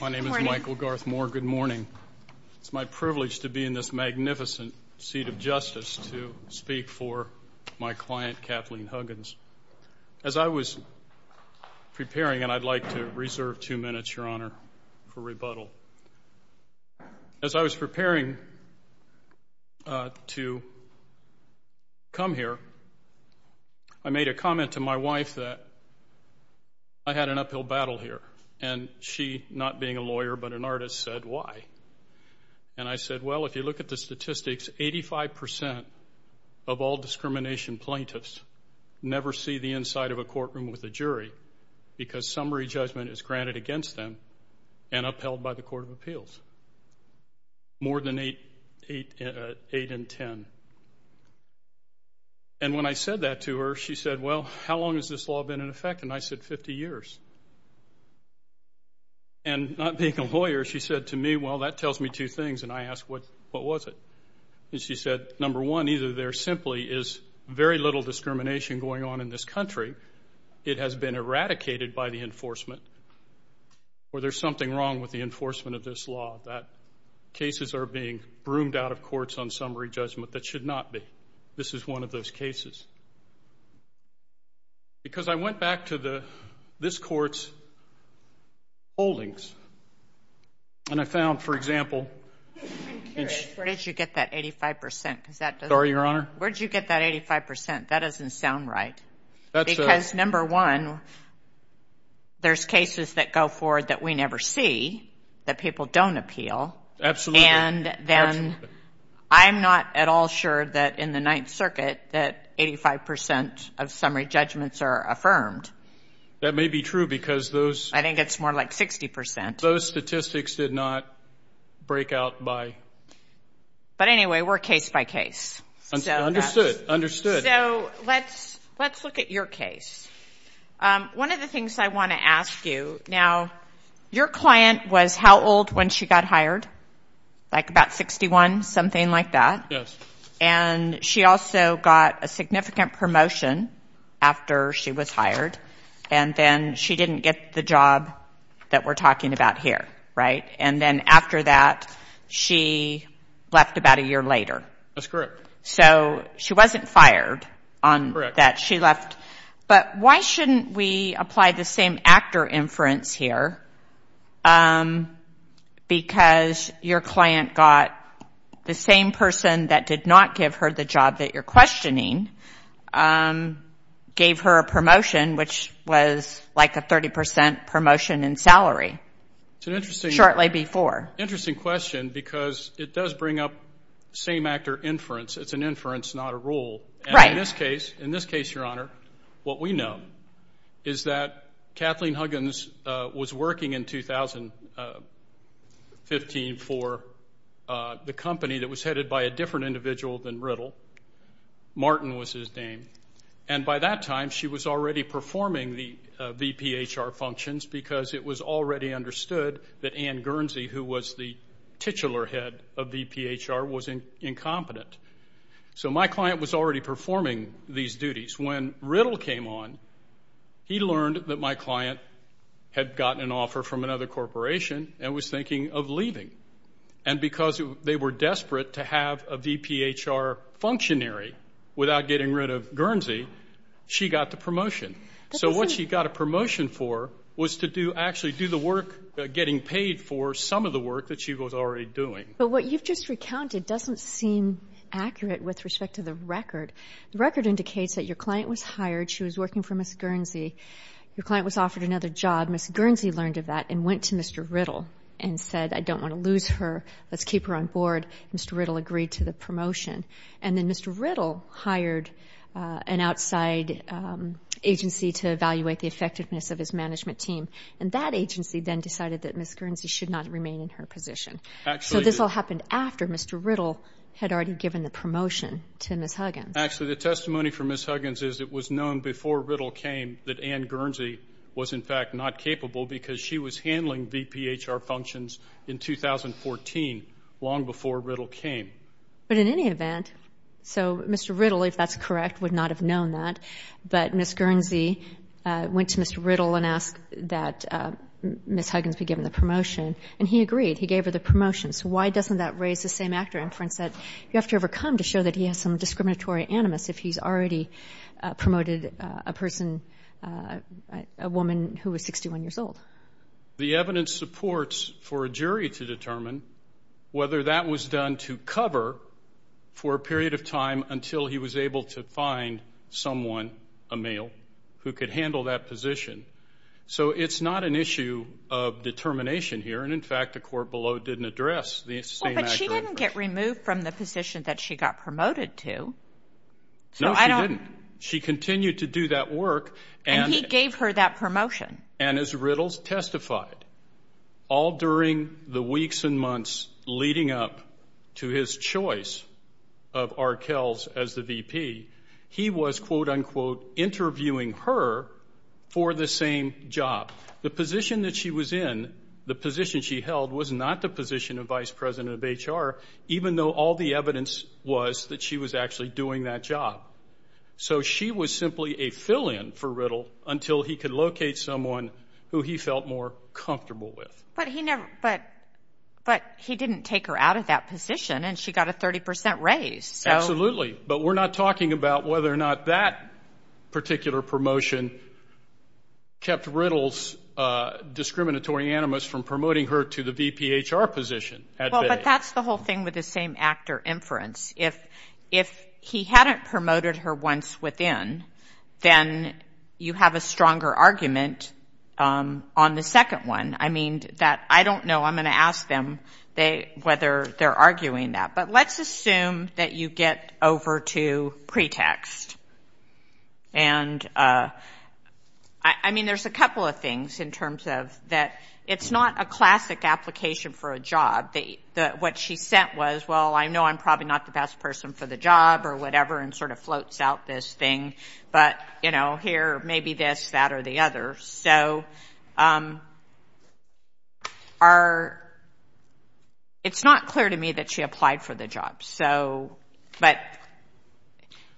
My name is Michael Garth Moore. Good morning. It's my privilege to be in this magnificent seat of justice to speak for my client Kathleen Huggins. As I was preparing, and I'd like to reserve two minutes, Your Honor, for rebuttal. As I was preparing to come here, I made a comment to my wife that I had an uphill battle here. And she, not being a lawyer but an artist, said, Why? And I said, Well, if you look at the statistics, 85% of all discrimination plaintiffs never see the inside of a courtroom with a jury because summary judgment is granted against them and upheld by the Court of Appeals. More than 8 in 10. And when I said that to her, she said, Well, how long has this law been in effect? And I said, 50 years. And not being a lawyer, she said to me, Well, that tells me two things. And I asked, What was it? And she said, Number one, either there simply is very little discrimination going on in this country. It has been eradicated by the enforcement, or there's something wrong with the enforcement of this law. That cases are being broomed out of courts on summary judgment. That should not be. This is one of those cases. Because I went back to this court's holdings, and I found, for example, Where did you get that 85%? Sorry, Your Honor? Where did you get that 85%? That doesn't sound right. Because, number one, there's cases that go forward that we never see, that people don't appeal. Absolutely. And then I'm not at all sure that in the Ninth Circuit that 85% of summary judgments are affirmed. That may be true because those I think it's more like 60%. Those statistics did not break out by But anyway, we're case by case. Understood. So let's look at your case. One of the things I want to ask you, now, your client was how old when she got hired? Like about 61, something like that? Yes. And she also got a significant promotion after she was hired. And then she didn't get the job that we're talking about here, right? And then after that, she left about a year later. That's correct. So she wasn't fired on that. She left. But why shouldn't we apply the same actor inference here? Because your client got the same person that did not give her the job that you're questioning, gave her a promotion, which was like a 30% promotion in salary shortly before. Interesting question because it does bring up same actor inference. It's an inference, not a rule. And in this case, Your Honor, what we know is that Kathleen Huggins was working in 2015 for the company that was headed by a different individual than Riddle. Martin was his name. And by that time, she was already performing the VPHR functions because it was already understood that Ann Guernsey, who was the titular head of VPHR, was incompetent. So my client was already performing these duties. When Riddle came on, he learned that my client had gotten an offer from another corporation and was thinking of leaving. And because they were desperate to have a VPHR functionary without getting rid of Guernsey, she got the promotion. So what she got a promotion for was to actually do the work, getting paid for some of the work that she was already doing. But what you've just recounted doesn't seem accurate with respect to the record. The record indicates that your client was hired. She was working for Ms. Guernsey. Your client was offered another job. Ms. Guernsey learned of that and went to Mr. Riddle and said, I don't want to lose her, let's keep her on board. Mr. Riddle agreed to the promotion. And then Mr. Riddle hired an outside agency to evaluate the effectiveness of his management team. And that agency then decided that Ms. Guernsey should not remain in her position. So this all happened after Mr. Riddle had already given the promotion to Ms. Huggins. Actually, the testimony from Ms. Huggins is it was known before Riddle came that Ann Guernsey was, in fact, not capable because she was handling VPHR functions in 2014, long before Riddle came. But in any event, so Mr. Riddle, if that's correct, would not have known that. But Ms. Guernsey went to Mr. Riddle and asked that Ms. Huggins be given the promotion, and he agreed. He gave her the promotion. So why doesn't that raise the same actor inference that you have to overcome to show that he has some discriminatory animus if he's already promoted a person, a woman who was 61 years old? The evidence supports for a jury to determine whether that was done to cover for a period of time until he was able to find someone, a male, who could handle that position. So it's not an issue of determination here. And, in fact, the court below didn't address the same actor inference. But she didn't get removed from the position that she got promoted to. No, she didn't. She continued to do that work. And he gave her that promotion. And as Riddle testified, all during the weeks and months leading up to his choice of Arkells as the VP, he was, quote, unquote, interviewing her for the same job. The position that she was in, the position she held, was not the position of Vice President of HR, even though all the evidence was that she was actually doing that job. So she was simply a fill-in for Riddle until he could locate someone who he felt more comfortable with. But he didn't take her out of that position, and she got a 30% raise. Absolutely. But we're not talking about whether or not that particular promotion kept Riddle's discriminatory animus from promoting her to the VPHR position. Well, but that's the whole thing with the same actor inference. If he hadn't promoted her once within, then you have a stronger argument on the second one. I mean, I don't know. I'm going to ask them whether they're arguing that. But let's assume that you get over to pretext. And, I mean, there's a couple of things in terms of that it's not a classic application for a job. What she sent was, well, I know I'm probably not the best person for the job or whatever, and sort of floats out this thing. But, you know, here, maybe this, that, or the other. So it's not clear to me that she applied for the job. But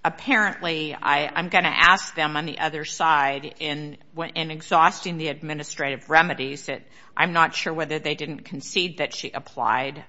apparently, I'm going to ask them on the other side, in exhausting the administrative remedies, that I'm not sure whether they didn't concede that she applied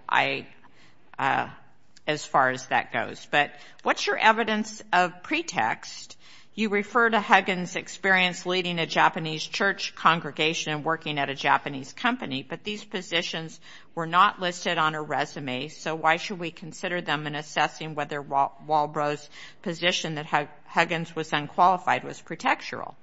as far as that goes. But what's your evidence of pretext? You refer to Huggins' experience leading a Japanese church congregation and working at a Japanese company, but these positions were not listed on her resume. So why should we consider them in assessing whether Walbro's position that Huggins was unqualified was pretextual?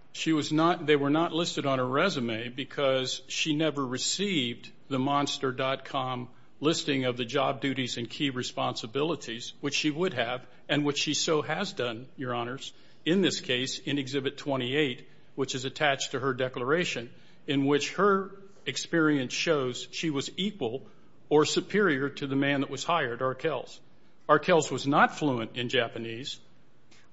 They were not listed on her resume because she never received the Monster.com listing of the job duties and key responsibilities, which she would have, and which she so has done, Your Honors, in this case, in Exhibit 28, which is attached to her declaration, in which her experience shows she was equal or superior to the man that was hired, Arkels. Arkels was not fluent in Japanese.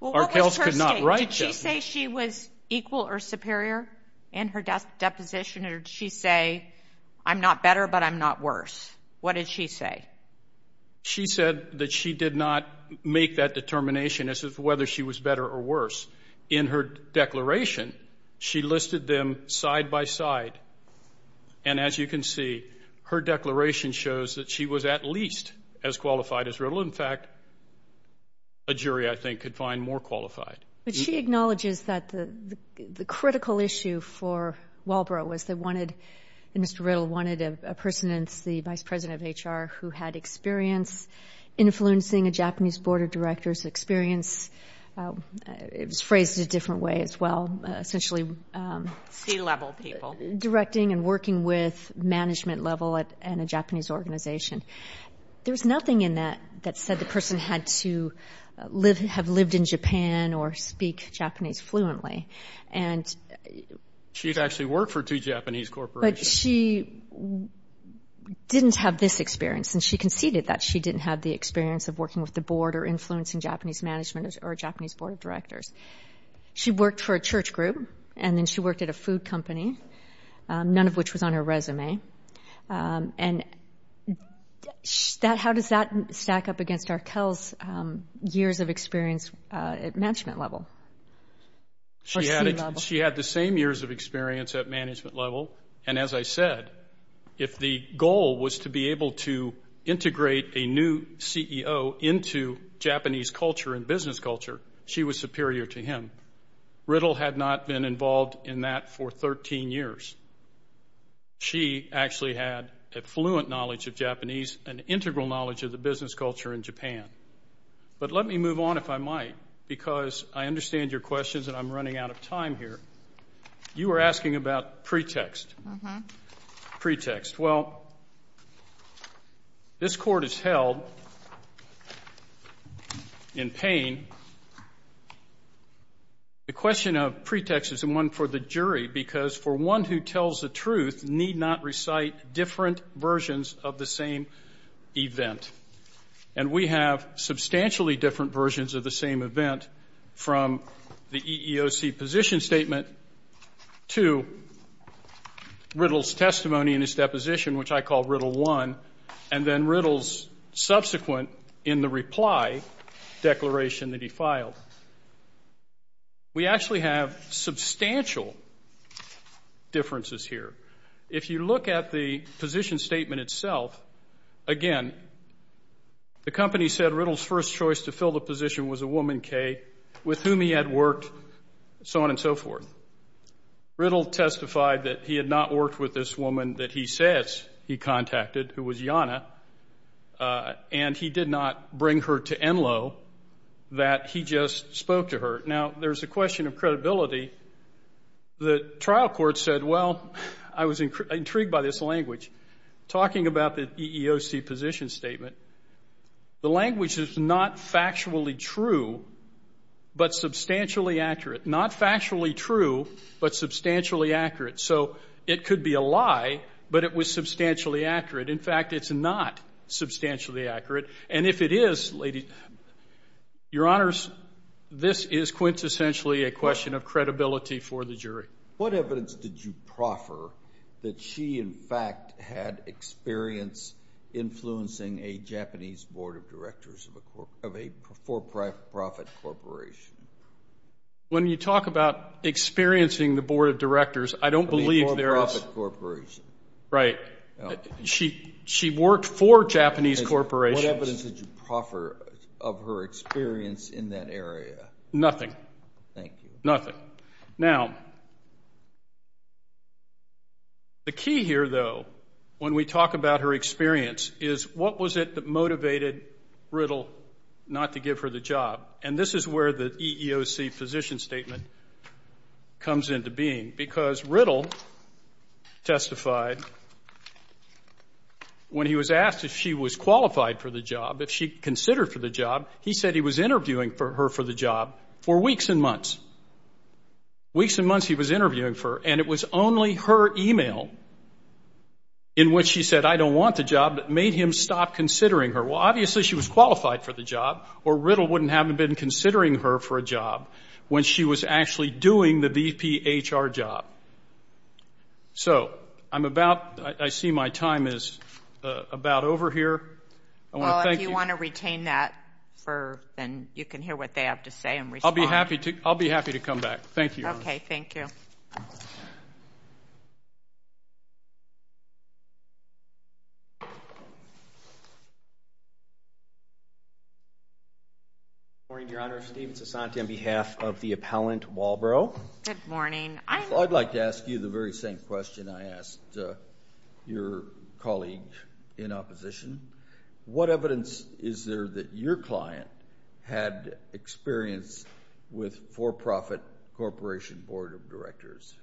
Arkels could not write Japanese. Did she say she was equal or superior in her deposition, or did she say, I'm not better, but I'm not worse? What did she say? She said that she did not make that determination as to whether she was better or worse. In her declaration, she listed them side by side. And as you can see, her declaration shows that she was at least as qualified as Riddle. In fact, a jury, I think, could find more qualified. But she acknowledges that the critical issue for Walbro was they wanted, and Mr. Riddle wanted a person that's the vice president of HR who had experience influencing a Japanese board of directors experience. It was phrased a different way as well, essentially. C-level people. Directing and working with management level and a Japanese organization. There's nothing in that that said the person had to have lived in Japan or speak Japanese fluently. She'd actually worked for two Japanese corporations. But she didn't have this experience, and she conceded that she didn't have the experience of working with the board or influencing Japanese management or Japanese board of directors. She worked for a church group, and then she worked at a food company, none of which was on her resume. And how does that stack up against Arkell's years of experience at management level? She had the same years of experience at management level, and as I said, if the goal was to be able to integrate a new CEO into Japanese culture and business culture, she was superior to him. Riddle had not been involved in that for 13 years. She actually had a fluent knowledge of Japanese and integral knowledge of the business culture in Japan. But let me move on, if I might, because I understand your questions, and I'm running out of time here. You were asking about pretext. Pretext. Well, this court is held in pain. The question of pretext is the one for the jury, because for one who tells the truth need not recite different versions of the same event. And we have substantially different versions of the same event from the EEOC position statement to Riddle's testimony in his deposition, which I call Riddle 1, and then Riddle's subsequent in the reply declaration that he filed. We actually have substantial differences here. If you look at the position statement itself, again, the company said Riddle's first choice to fill the position was a woman, Kay, with whom he had worked, so on and so forth. Riddle testified that he had not worked with this woman that he says he contacted, who was Yana, and he did not bring her to Enloe, that he just spoke to her. Now, there's a question of credibility. The trial court said, well, I was intrigued by this language. Talking about the EEOC position statement, the language is not factually true, but substantially accurate. Not factually true, but substantially accurate. So it could be a lie, but it was substantially accurate. In fact, it's not substantially accurate. And if it is, your honors, this is quintessentially a question of credibility for the jury. What evidence did you proffer that she, in fact, had experience influencing a Japanese board of directors of a for-profit corporation? When you talk about experiencing the board of directors, I don't believe there is. I mean, for-profit corporation. Right. She worked for Japanese corporations. What evidence did you proffer of her experience in that area? Nothing. Thank you. Nothing. Now, the key here, though, when we talk about her experience, is what was it that motivated Riddle not to give her the job? And this is where the EEOC position statement comes into being, because Riddle testified when he was asked if she was qualified for the job, if she considered for the job, he said he was interviewing her for the job for weeks and months. Weeks and months he was interviewing for her, and it was only her e-mail in which she said, I don't want the job, that made him stop considering her. Well, obviously she was qualified for the job, or Riddle wouldn't have been considering her for a job when she was actually doing the BPHR job. So I'm about to see my time is about over here. Well, if you want to retain that, then you can hear what they have to say and respond. I'll be happy to come back. Thank you. Okay, thank you. Good morning, Your Honor. Steven Sasanti on behalf of the appellant, Walbro. Good morning. I'd like to ask you the very same question I asked your colleague in opposition. What evidence is there that your client had experience with for-profit corporation board of directors?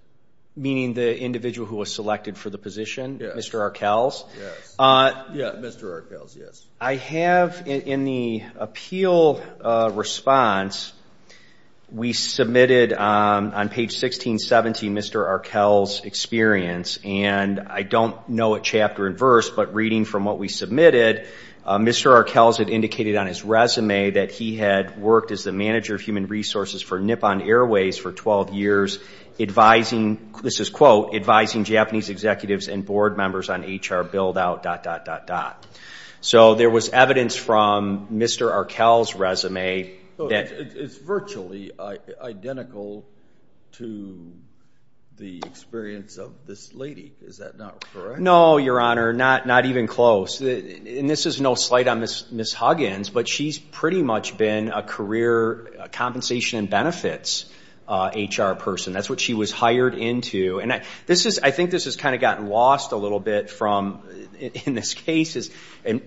Meaning the individual who was selected for the position? Yes. Mr. Arkells? Yes. Yeah, Mr. Arkells, yes. I have in the appeal response, we submitted on page 1617 Mr. Arkell's experience, and I don't know it chapter and verse, but reading from what we submitted, Mr. Arkells had indicated on his resume that he had worked as the manager of human resources for Nippon Airways for 12 years advising, this is quote, advising Japanese executives and board members on HR build-out, dot, dot, dot, dot. It's virtually identical to the experience of this lady. Is that not correct? No, Your Honor. Not even close. And this is no slight on Ms. Huggins, but she's pretty much been a career compensation and benefits HR person. That's what she was hired into. And I think this has kind of gotten lost a little bit from, in this case,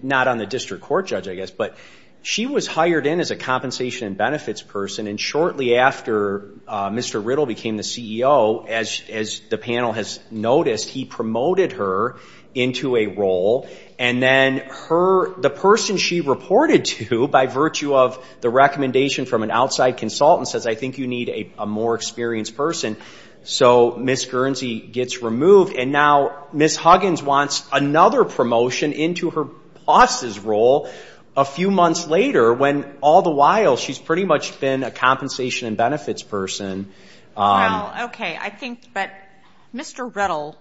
not on the district court judge, I guess, but she was hired in as a compensation and benefits person, and shortly after Mr. Riddle became the CEO, as the panel has noticed, he promoted her into a role. And then the person she reported to by virtue of the recommendation from an outside consultant says, I think you need a more experienced person. So Ms. Guernsey gets removed. And now Ms. Huggins wants another promotion into her boss's role a few months later when all the while she's pretty much been a compensation and benefits person. Well, okay. I think that Mr. Riddle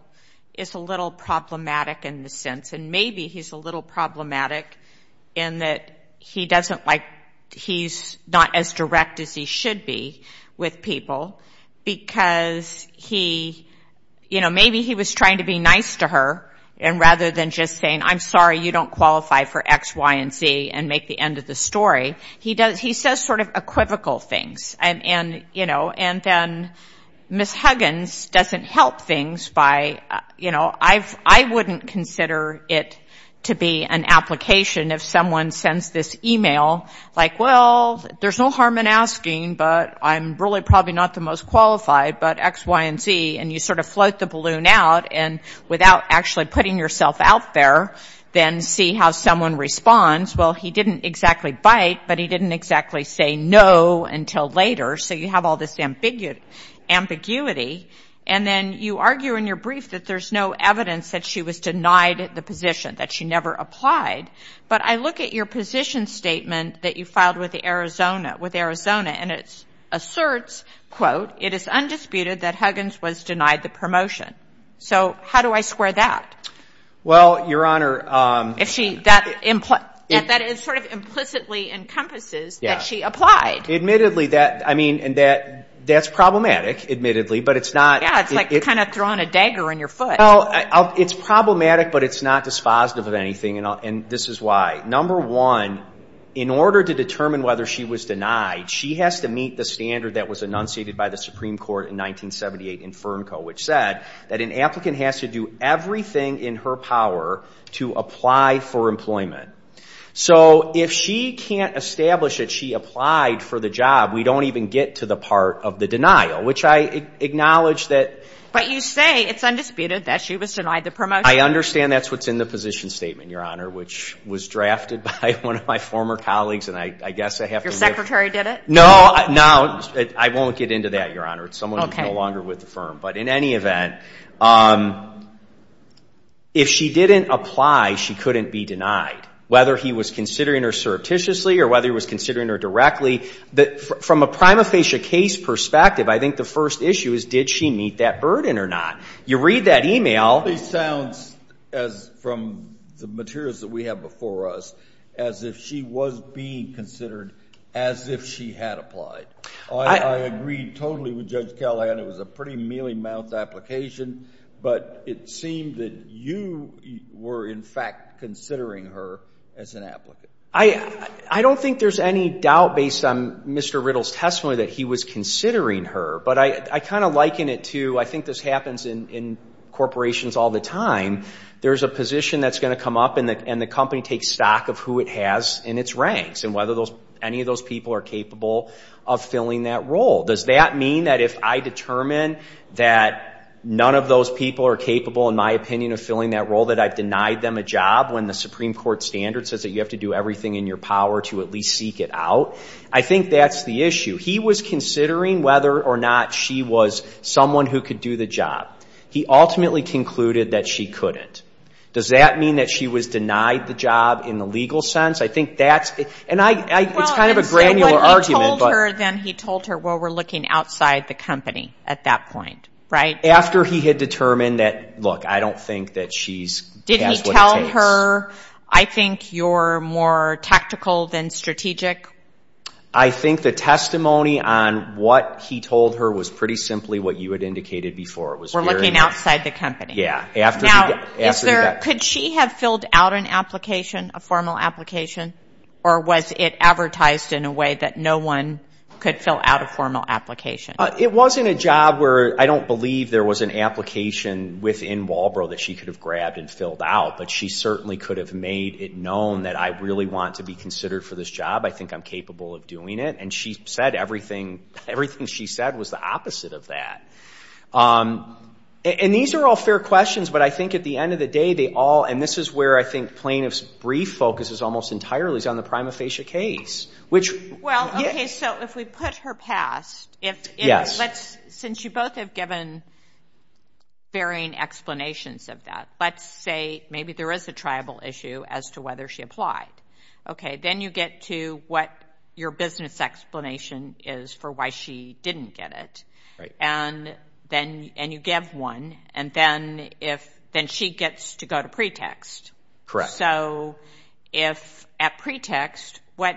is a little problematic in the sense, and maybe he's a little problematic in that he doesn't like, he's not as direct as he should be with people because he, you know, maybe he was trying to be nice to her rather than just saying, I'm sorry, you don't qualify for X, Y, and Z and make the end of the story. He says sort of equivocal things. And then Ms. Huggins doesn't help things by, you know, I wouldn't consider it to be an application if someone sends this e-mail like, well, there's no harm in asking, but I'm really probably not the most qualified, but X, Y, and Z, and you sort of float the balloon out and without actually putting yourself out there, then see how someone responds. Well, he didn't exactly bite, but he didn't exactly say no until later. So you have all this ambiguity. And then you argue in your brief that there's no evidence that she was denied the position, that she never applied. But I look at your position statement that you filed with Arizona, and it asserts, quote, it is undisputed that Huggins was denied the promotion. So how do I square that? Well, Your Honor. That sort of implicitly encompasses that she applied. Admittedly, that's problematic, admittedly, but it's not. Yeah, it's like kind of throwing a dagger in your foot. It's problematic, but it's not dispositive of anything, and this is why. Number one, in order to determine whether she was denied, she has to meet the standard that was enunciated by the Supreme Court in 1978 in FERNCO, which said that an applicant has to do everything in her power to apply for employment. So if she can't establish that she applied for the job, we don't even get to the part of the denial, which I acknowledge that. But you say it's undisputed that she was denied the promotion. I understand that's what's in the position statement, Your Honor, which was drafted by one of my former colleagues, and I guess I have to admit. Your secretary did it? No, I won't get into that, Your Honor. It's someone who's no longer with the firm. But in any event, if she didn't apply, she couldn't be denied, whether he was considering her surreptitiously or whether he was considering her directly. From a prima facie case perspective, I think the first issue is did she meet that burden or not? You read that e-mail. It sounds, from the materials that we have before us, as if she was being considered as if she had applied. I agree totally with Judge Callahan. It was a pretty mealy-mouthed application. But it seemed that you were, in fact, considering her as an applicant. I don't think there's any doubt based on Mr. Riddle's testimony that he was considering her. But I kind of liken it to, I think this happens in corporations all the time, there's a position that's going to come up and the company takes stock of who it has in its ranks and whether any of those people are capable of filling that role. Does that mean that if I determine that none of those people are capable, in my opinion, of filling that role, that I've denied them a job when the Supreme Court standard says that you have to do everything in your power to at least seek it out? I think that's the issue. He was considering whether or not she was someone who could do the job. He ultimately concluded that she couldn't. Does that mean that she was denied the job in the legal sense? I think that's it. It's kind of a granular argument. When he told her, then he told her, well, we're looking outside the company at that point, right? After he had determined that, look, I don't think that she has what it takes. Did he tell her, I think you're more tactical than strategic? I think the testimony on what he told her was pretty simply what you had indicated before. We're looking outside the company. Yeah. Now, could she have filled out an application, a formal application, or was it advertised in a way that no one could fill out a formal application? It wasn't a job where I don't believe there was an application within Walbro that she could have grabbed and filled out, but she certainly could have made it known that I really want to be considered for this job. I think I'm capable of doing it. And she said everything she said was the opposite of that. And these are all fair questions, but I think at the end of the day they all, and this is where I think plaintiff's brief focuses almost entirely, is on the prima facie case. Well, okay, so if we put her past, since you both have given varying explanations of that, let's say maybe there is a tribal issue as to whether she applied. Okay. Then you get to what your business explanation is for why she didn't get it. Right. And you give one, and then she gets to go to pretext. Correct. So if at pretext, what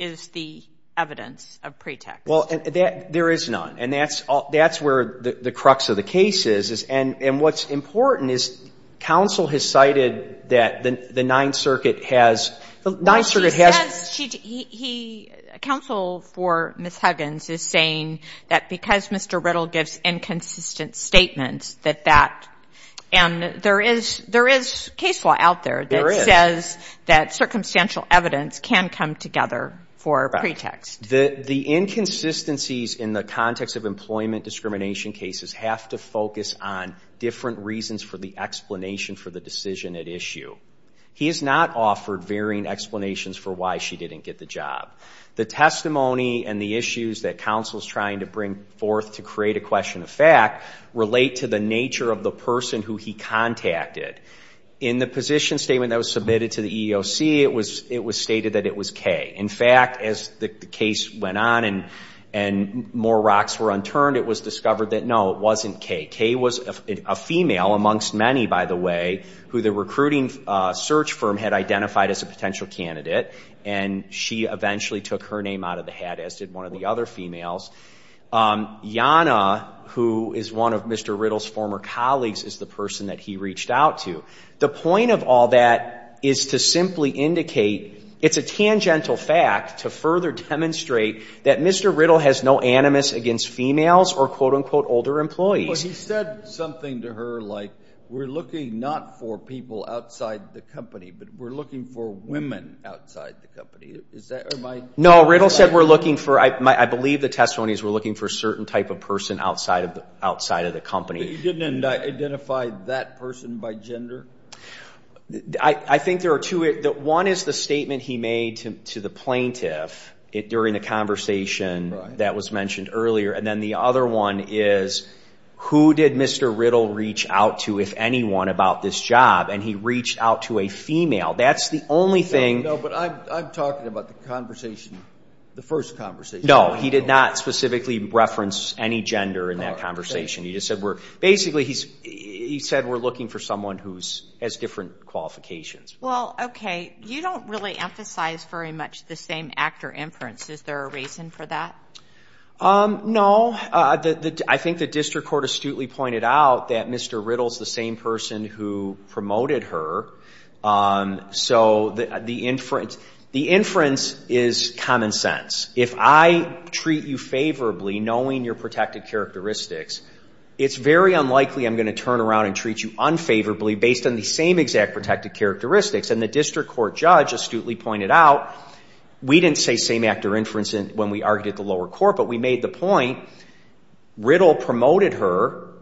is the evidence of pretext? Well, there is none, and that's where the crux of the case is. And what's important is counsel has cited that the Ninth Circuit has, the Ninth Circuit has. Well, she says she, he, counsel for Ms. Huggins is saying that because Mr. Riddle gives inconsistent statements that that, and there is, there is case law out there that says that circumstantial evidence can come together for pretext. Right. The inconsistencies in the context of employment discrimination cases have to focus on different reasons for the explanation for the decision at issue. He has not offered varying explanations for why she didn't get the job. The testimony and the issues that counsel is trying to bring forth to create a question of fact relate to the nature of the person who he contacted. In the position statement that was submitted to the EEOC, it was, it was stated that it was K. In fact, as the case went on and, and more rocks were unturned, it was discovered that no, it wasn't K. K. was a female amongst many, by the way, who the recruiting search firm had identified as a potential candidate, and she eventually took her name out of the hat, as did one of the other females. Yanna, who is one of Mr. Riddle's former colleagues, is the person that he reached out to. The point of all that is to simply indicate, it's a tangential fact to further demonstrate that Mr. Riddle has no animus against females or, quote, unquote, older employees. He said something to her like, we're looking not for people outside the company, but we're looking for women outside the company. Is that right? No, Riddle said we're looking for, I believe the testimony is we're looking for a certain type of person outside of the, outside of the company. But you didn't identify that person by gender? I think there are two, one is the statement he made to the plaintiff during the conversation that was mentioned earlier. And then the other one is, who did Mr. Riddle reach out to, if anyone, about this job? And he reached out to a female. That's the only thing. No, but I'm talking about the conversation, the first conversation. No, he did not specifically reference any gender in that conversation. He just said we're, basically he said we're looking for someone who has different qualifications. Well, okay. You don't really emphasize very much the same actor inference. Is there a reason for that? No. I think the district court astutely pointed out that Mr. Riddle is the same person who promoted her. So the inference is common sense. If I treat you favorably, knowing your protected characteristics, it's very unlikely I'm going to turn around and treat you unfavorably based on the same exact protected characteristics. And the district court judge astutely pointed out we didn't say same actor inference when we argued at the lower court, but we made the point Riddle promoted her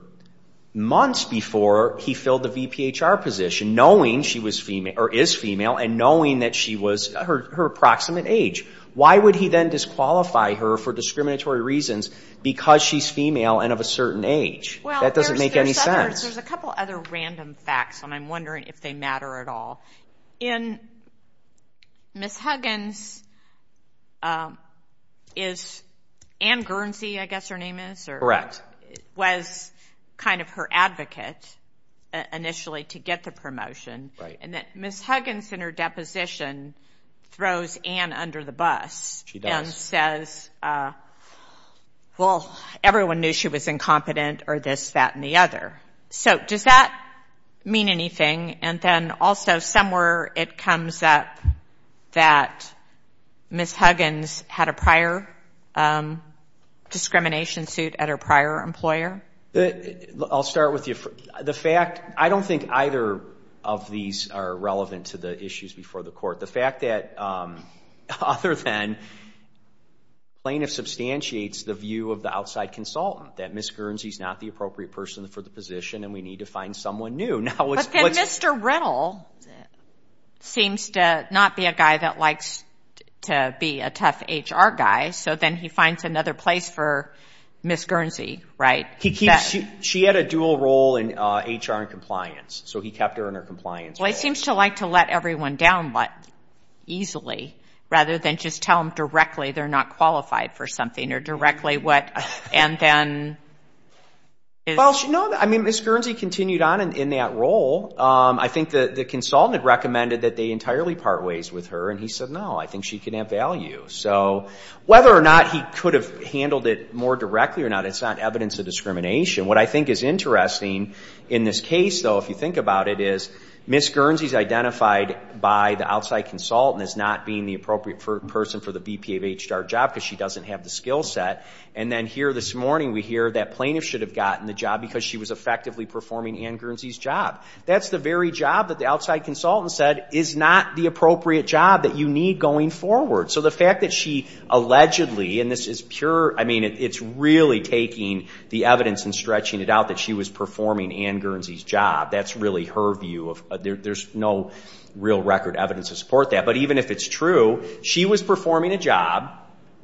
months before he filled the VPHR position, knowing she was female, or is female, and knowing that she was her approximate age. Why would he then disqualify her for discriminatory reasons because she's female and of a certain age? That doesn't make any sense. Well, there's a couple other random facts, and I'm wondering if they matter at all. In Ms. Huggins, is Ann Guernsey, I guess her name is? Correct. Was kind of her advocate initially to get the promotion. Right. And that Ms. Huggins in her deposition throws Ann under the bus. She does. And says, well, everyone knew she was incompetent, or this, that, and the other. So does that mean anything? And then also somewhere it comes up that Ms. Huggins had a prior discrimination suit at her prior employer? I'll start with you. The fact, I don't think either of these are relevant to the issues before the court. The fact that other than plaintiff substantiates the view of the outside consultant, that Ms. Guernsey's not the appropriate person for the position and we need to find someone new. But then Mr. Riddle seems to not be a guy that likes to be a tough HR guy, so then he finds another place for Ms. Guernsey, right? She had a dual role in HR and compliance, so he kept her in her compliance position. Well, he seems to like to let everyone down easily rather than just tell them directly they're not qualified for something, or directly what, and then is. Well, no, I mean, Ms. Guernsey continued on in that role. I think the consultant had recommended that they entirely part ways with her, and he said, no, I think she can have value. So whether or not he could have handled it more directly or not, it's not evidence of discrimination. What I think is interesting in this case, though, if you think about it, is Ms. Guernsey's identified by the outside consultant as not being the appropriate person for the BP of HR job because she doesn't have the skill set, and then here this morning we hear that plaintiff should have gotten the job because she was effectively performing Ann Guernsey's job. That's the very job that the outside consultant said is not the appropriate job that you need going forward. So the fact that she allegedly, and this is pure, I mean, it's really taking the evidence and stretching it out that she was performing Ann Guernsey's job. That's really her view. There's no real record evidence to support that. But even if it's true, she was performing a job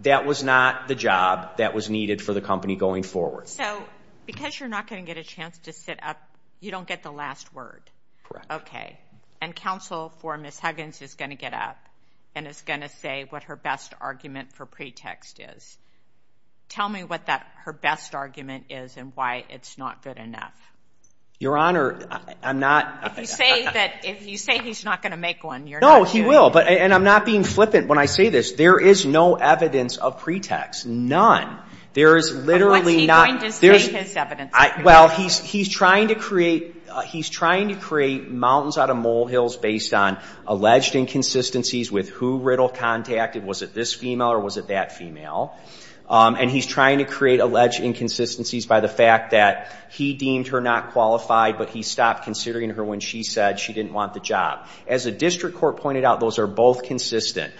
that was not the job that was needed for the company going forward. So because you're not going to get a chance to sit up, you don't get the last word. Correct. Okay. And counsel for Ms. Huggins is going to get up and is going to say what her best argument for pretext is. Tell me what her best argument is and why it's not good enough. Your Honor, I'm not. If you say he's not going to make one, you're not going to. Well, he will, and I'm not being flippant when I say this. There is no evidence of pretext, none. There is literally not. What's he going to say his evidence is? Well, he's trying to create mountains out of molehills based on alleged inconsistencies with who Riddle contacted. Was it this female or was it that female? And he's trying to create alleged inconsistencies by the fact that he deemed her not qualified, but he stopped considering her when she said she didn't want the job. As the district court pointed out, those are both consistent.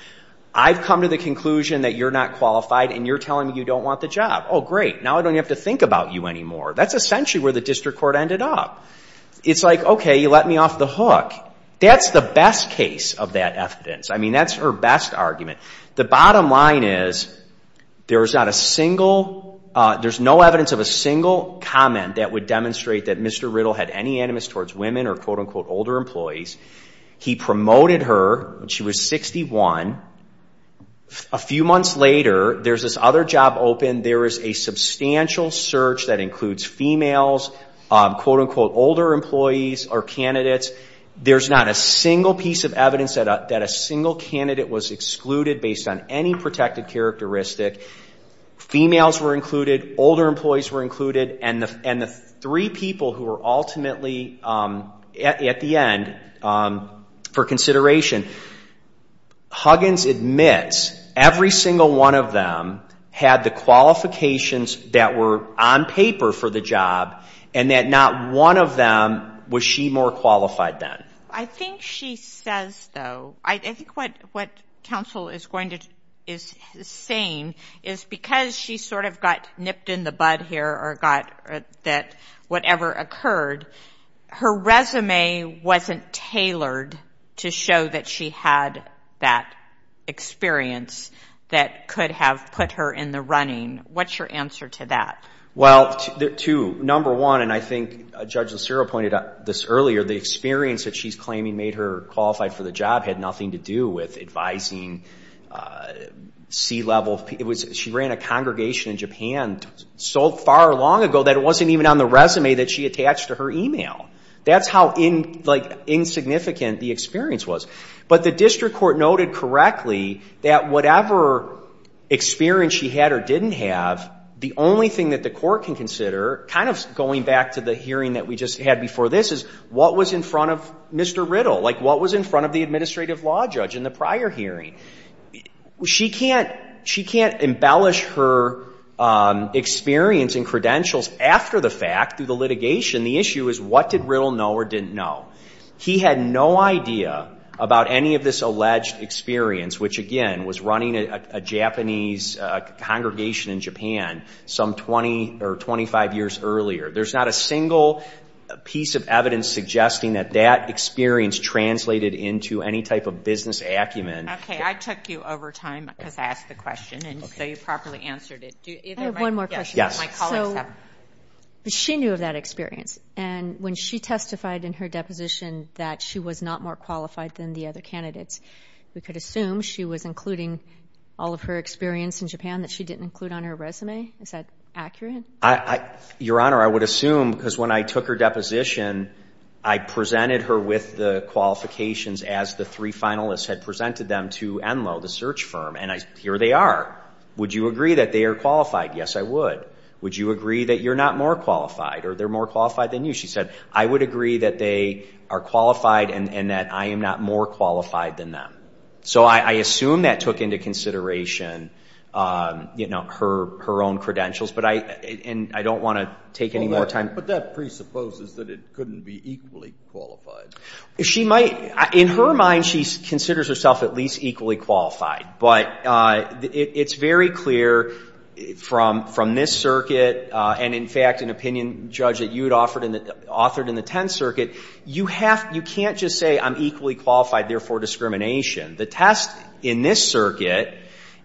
I've come to the conclusion that you're not qualified and you're telling me you don't want the job. Oh, great. Now I don't have to think about you anymore. That's essentially where the district court ended up. It's like, okay, you let me off the hook. That's the best case of that evidence. I mean, that's her best argument. The bottom line is there's not a single, there's no evidence of a single comment that would demonstrate that Mr. Riddle had any animus towards women or quote-unquote older employees. He promoted her when she was 61. A few months later, there's this other job open. There is a substantial search that includes females, quote-unquote older employees or candidates. There's not a single piece of evidence that a single candidate was excluded based on any protected characteristic. Females were included, older employees were included, and the three people who were ultimately at the end for consideration. Huggins admits every single one of them had the qualifications that were on paper for the job and that not one of them was she more qualified than. I think she says, though, I think what counsel is saying is because she sort of got nipped in the bud here or got that whatever occurred, her resume wasn't tailored to show that she had that experience that could have put her in the running. What's your answer to that? Well, two, number one, and I think Judge Lucero pointed out this earlier, the experience that she's claiming made her qualified for the job had nothing to do with advising C-level. She ran a congregation in Japan so far long ago that it wasn't even on the resume that she attached to her email. That's how insignificant the experience was. But the district court noted correctly that whatever experience she had or didn't have, the only thing that the court can consider, kind of going back to the hearing that we just had before this, is what was in front of Mr. Riddle? Like what was in front of the administrative law judge in the prior hearing? She can't embellish her experience and credentials after the fact through the litigation. The issue is what did Riddle know or didn't know? He had no idea about any of this alleged experience, which, again, was running a Japanese congregation in Japan some 20 or 25 years earlier. There's not a single piece of evidence suggesting that that experience translated into any type of business acumen. Okay. I took you over time because I asked the question, and so you properly answered it. I have one more question. Yes. My colleagues have. She knew of that experience, and when she testified in her deposition that she was not more qualified than the other candidates, we could assume she was including all of her experience in Japan that she didn't include on her resume? Is that accurate? Your Honor, I would assume because when I took her deposition, I presented her with the qualifications as the three finalists had presented them to Enloe, the search firm, and here they are. Would you agree that they are qualified? Yes, I would. Would you agree that you're not more qualified or they're more qualified than you? She said, I would agree that they are qualified and that I am not more qualified than them. So I assume that took into consideration her own credentials, and I don't want to take any more time. But that presupposes that it couldn't be equally qualified. In her mind, she considers herself at least equally qualified, but it's very clear from this circuit and, in fact, an opinion judge that you had authored in the Tenth Circuit, you can't just say I'm equally qualified, therefore discrimination. The test in this circuit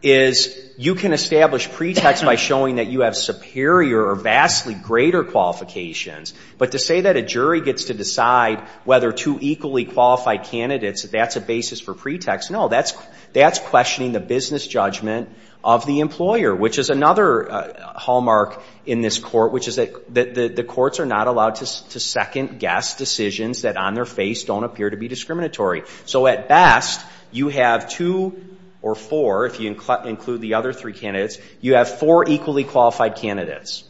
is you can establish pretext by showing that you have superior or vastly greater qualifications, but to say that a jury gets to decide whether two equally qualified candidates, that's a basis for pretext. No, that's questioning the business judgment of the employer, which is another hallmark in this court, which is that the courts are not allowed to second-guess decisions that on their face don't appear to be discriminatory. So at best, you have two or four, if you include the other three candidates, you have four equally qualified candidates.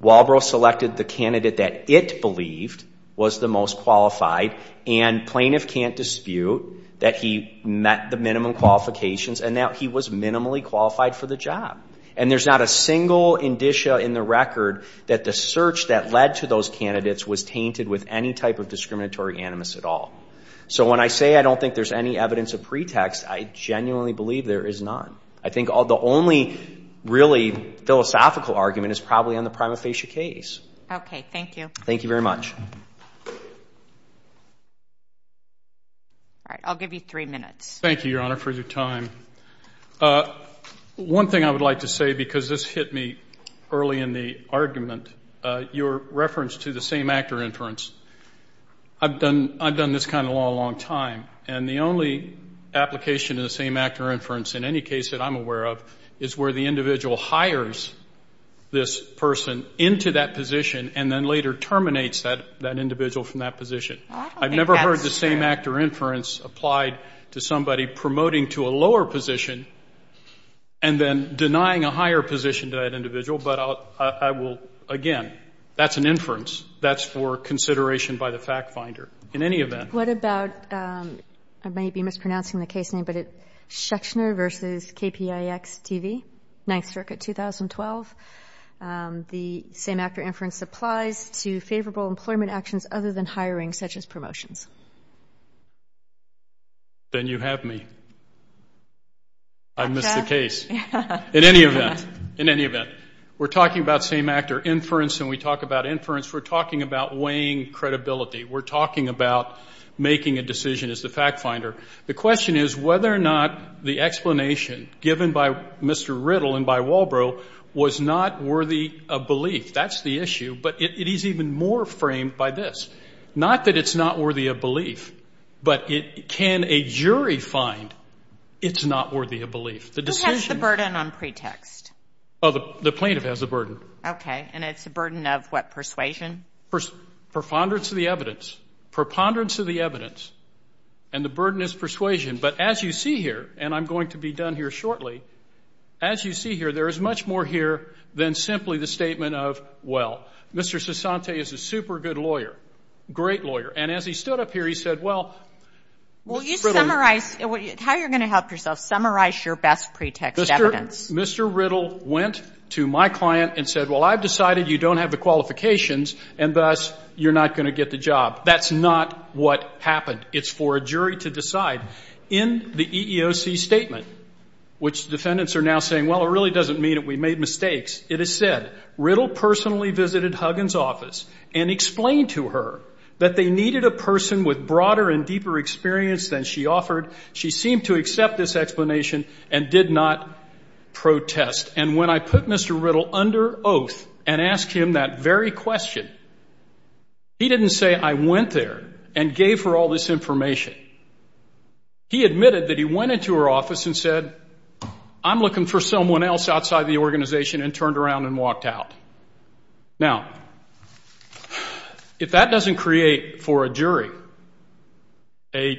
Walbro selected the candidate that it believed was the most qualified, and plaintiff can't dispute that he met the minimum qualifications and that he was minimally qualified for the job. And there's not a single indicia in the record that the search that led to those candidates was tainted with any type of discriminatory animus at all. So when I say I don't think there's any evidence of pretext, I genuinely believe there is none. I think the only really philosophical argument is probably on the prima facie case. Okay. Thank you. Thank you very much. All right. I'll give you three minutes. Thank you, Your Honor, for your time. One thing I would like to say, because this hit me early in the argument, your reference to the same-actor inference, I've done this kind of law a long time, and the only application of the same-actor inference in any case that I'm aware of is where the individual hires this person into that position and then later terminates that individual from that position. I've never heard the same-actor inference applied to somebody promoting to a lower position and then denying a higher position to that individual. But I will, again, that's an inference. That's for consideration by the fact finder in any event. What about, I may be mispronouncing the case name, but it's Schechner versus KPIX TV, 9th Circuit, 2012. The same-actor inference applies to favorable employment actions other than hiring, such as promotions. Then you have me. I missed the case. In any event, in any event, we're talking about same-actor inference, and we talk about inference. We're talking about weighing credibility. We're talking about making a decision as the fact finder. The question is whether or not the explanation given by Mr. Riddle and by Walbro was not worthy of belief. That's the issue. But it is even more framed by this, not that it's not worthy of belief, but can a jury find it's not worthy of belief? Who has the burden on pretext? The plaintiff has the burden. Okay. And it's a burden of what, persuasion? Preponderance of the evidence. Preponderance of the evidence. And the burden is persuasion. But as you see here, and I'm going to be done here shortly, as you see here there is much more here than simply the statement of, well, Mr. Sassante is a super good lawyer, great lawyer. And as he stood up here he said, well, Mr. Riddle. How are you going to help yourself? Summarize your best pretext evidence. Mr. Riddle went to my client and said, Well, I've decided you don't have the qualifications, and thus you're not going to get the job. That's not what happened. It's for a jury to decide. In the EEOC statement, which defendants are now saying, well, it really doesn't mean that we made mistakes, it is said Riddle personally visited Huggins' office and explained to her that they needed a person with broader and deeper experience than she offered. She seemed to accept this explanation and did not protest. And when I put Mr. Riddle under oath and asked him that very question, he didn't say I went there and gave her all this information. He admitted that he went into her office and said, I'm looking for someone else outside the organization, and turned around and walked out. Now, if that doesn't create for a jury a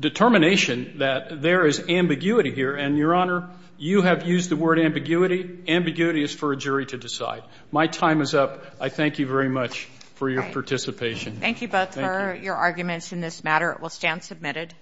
determination that there is ambiguity here, and, Your Honor, you have used the word ambiguity. Ambiguity is for a jury to decide. My time is up. I thank you very much for your participation. Thank you both for your arguments in this matter. It will stand submitted.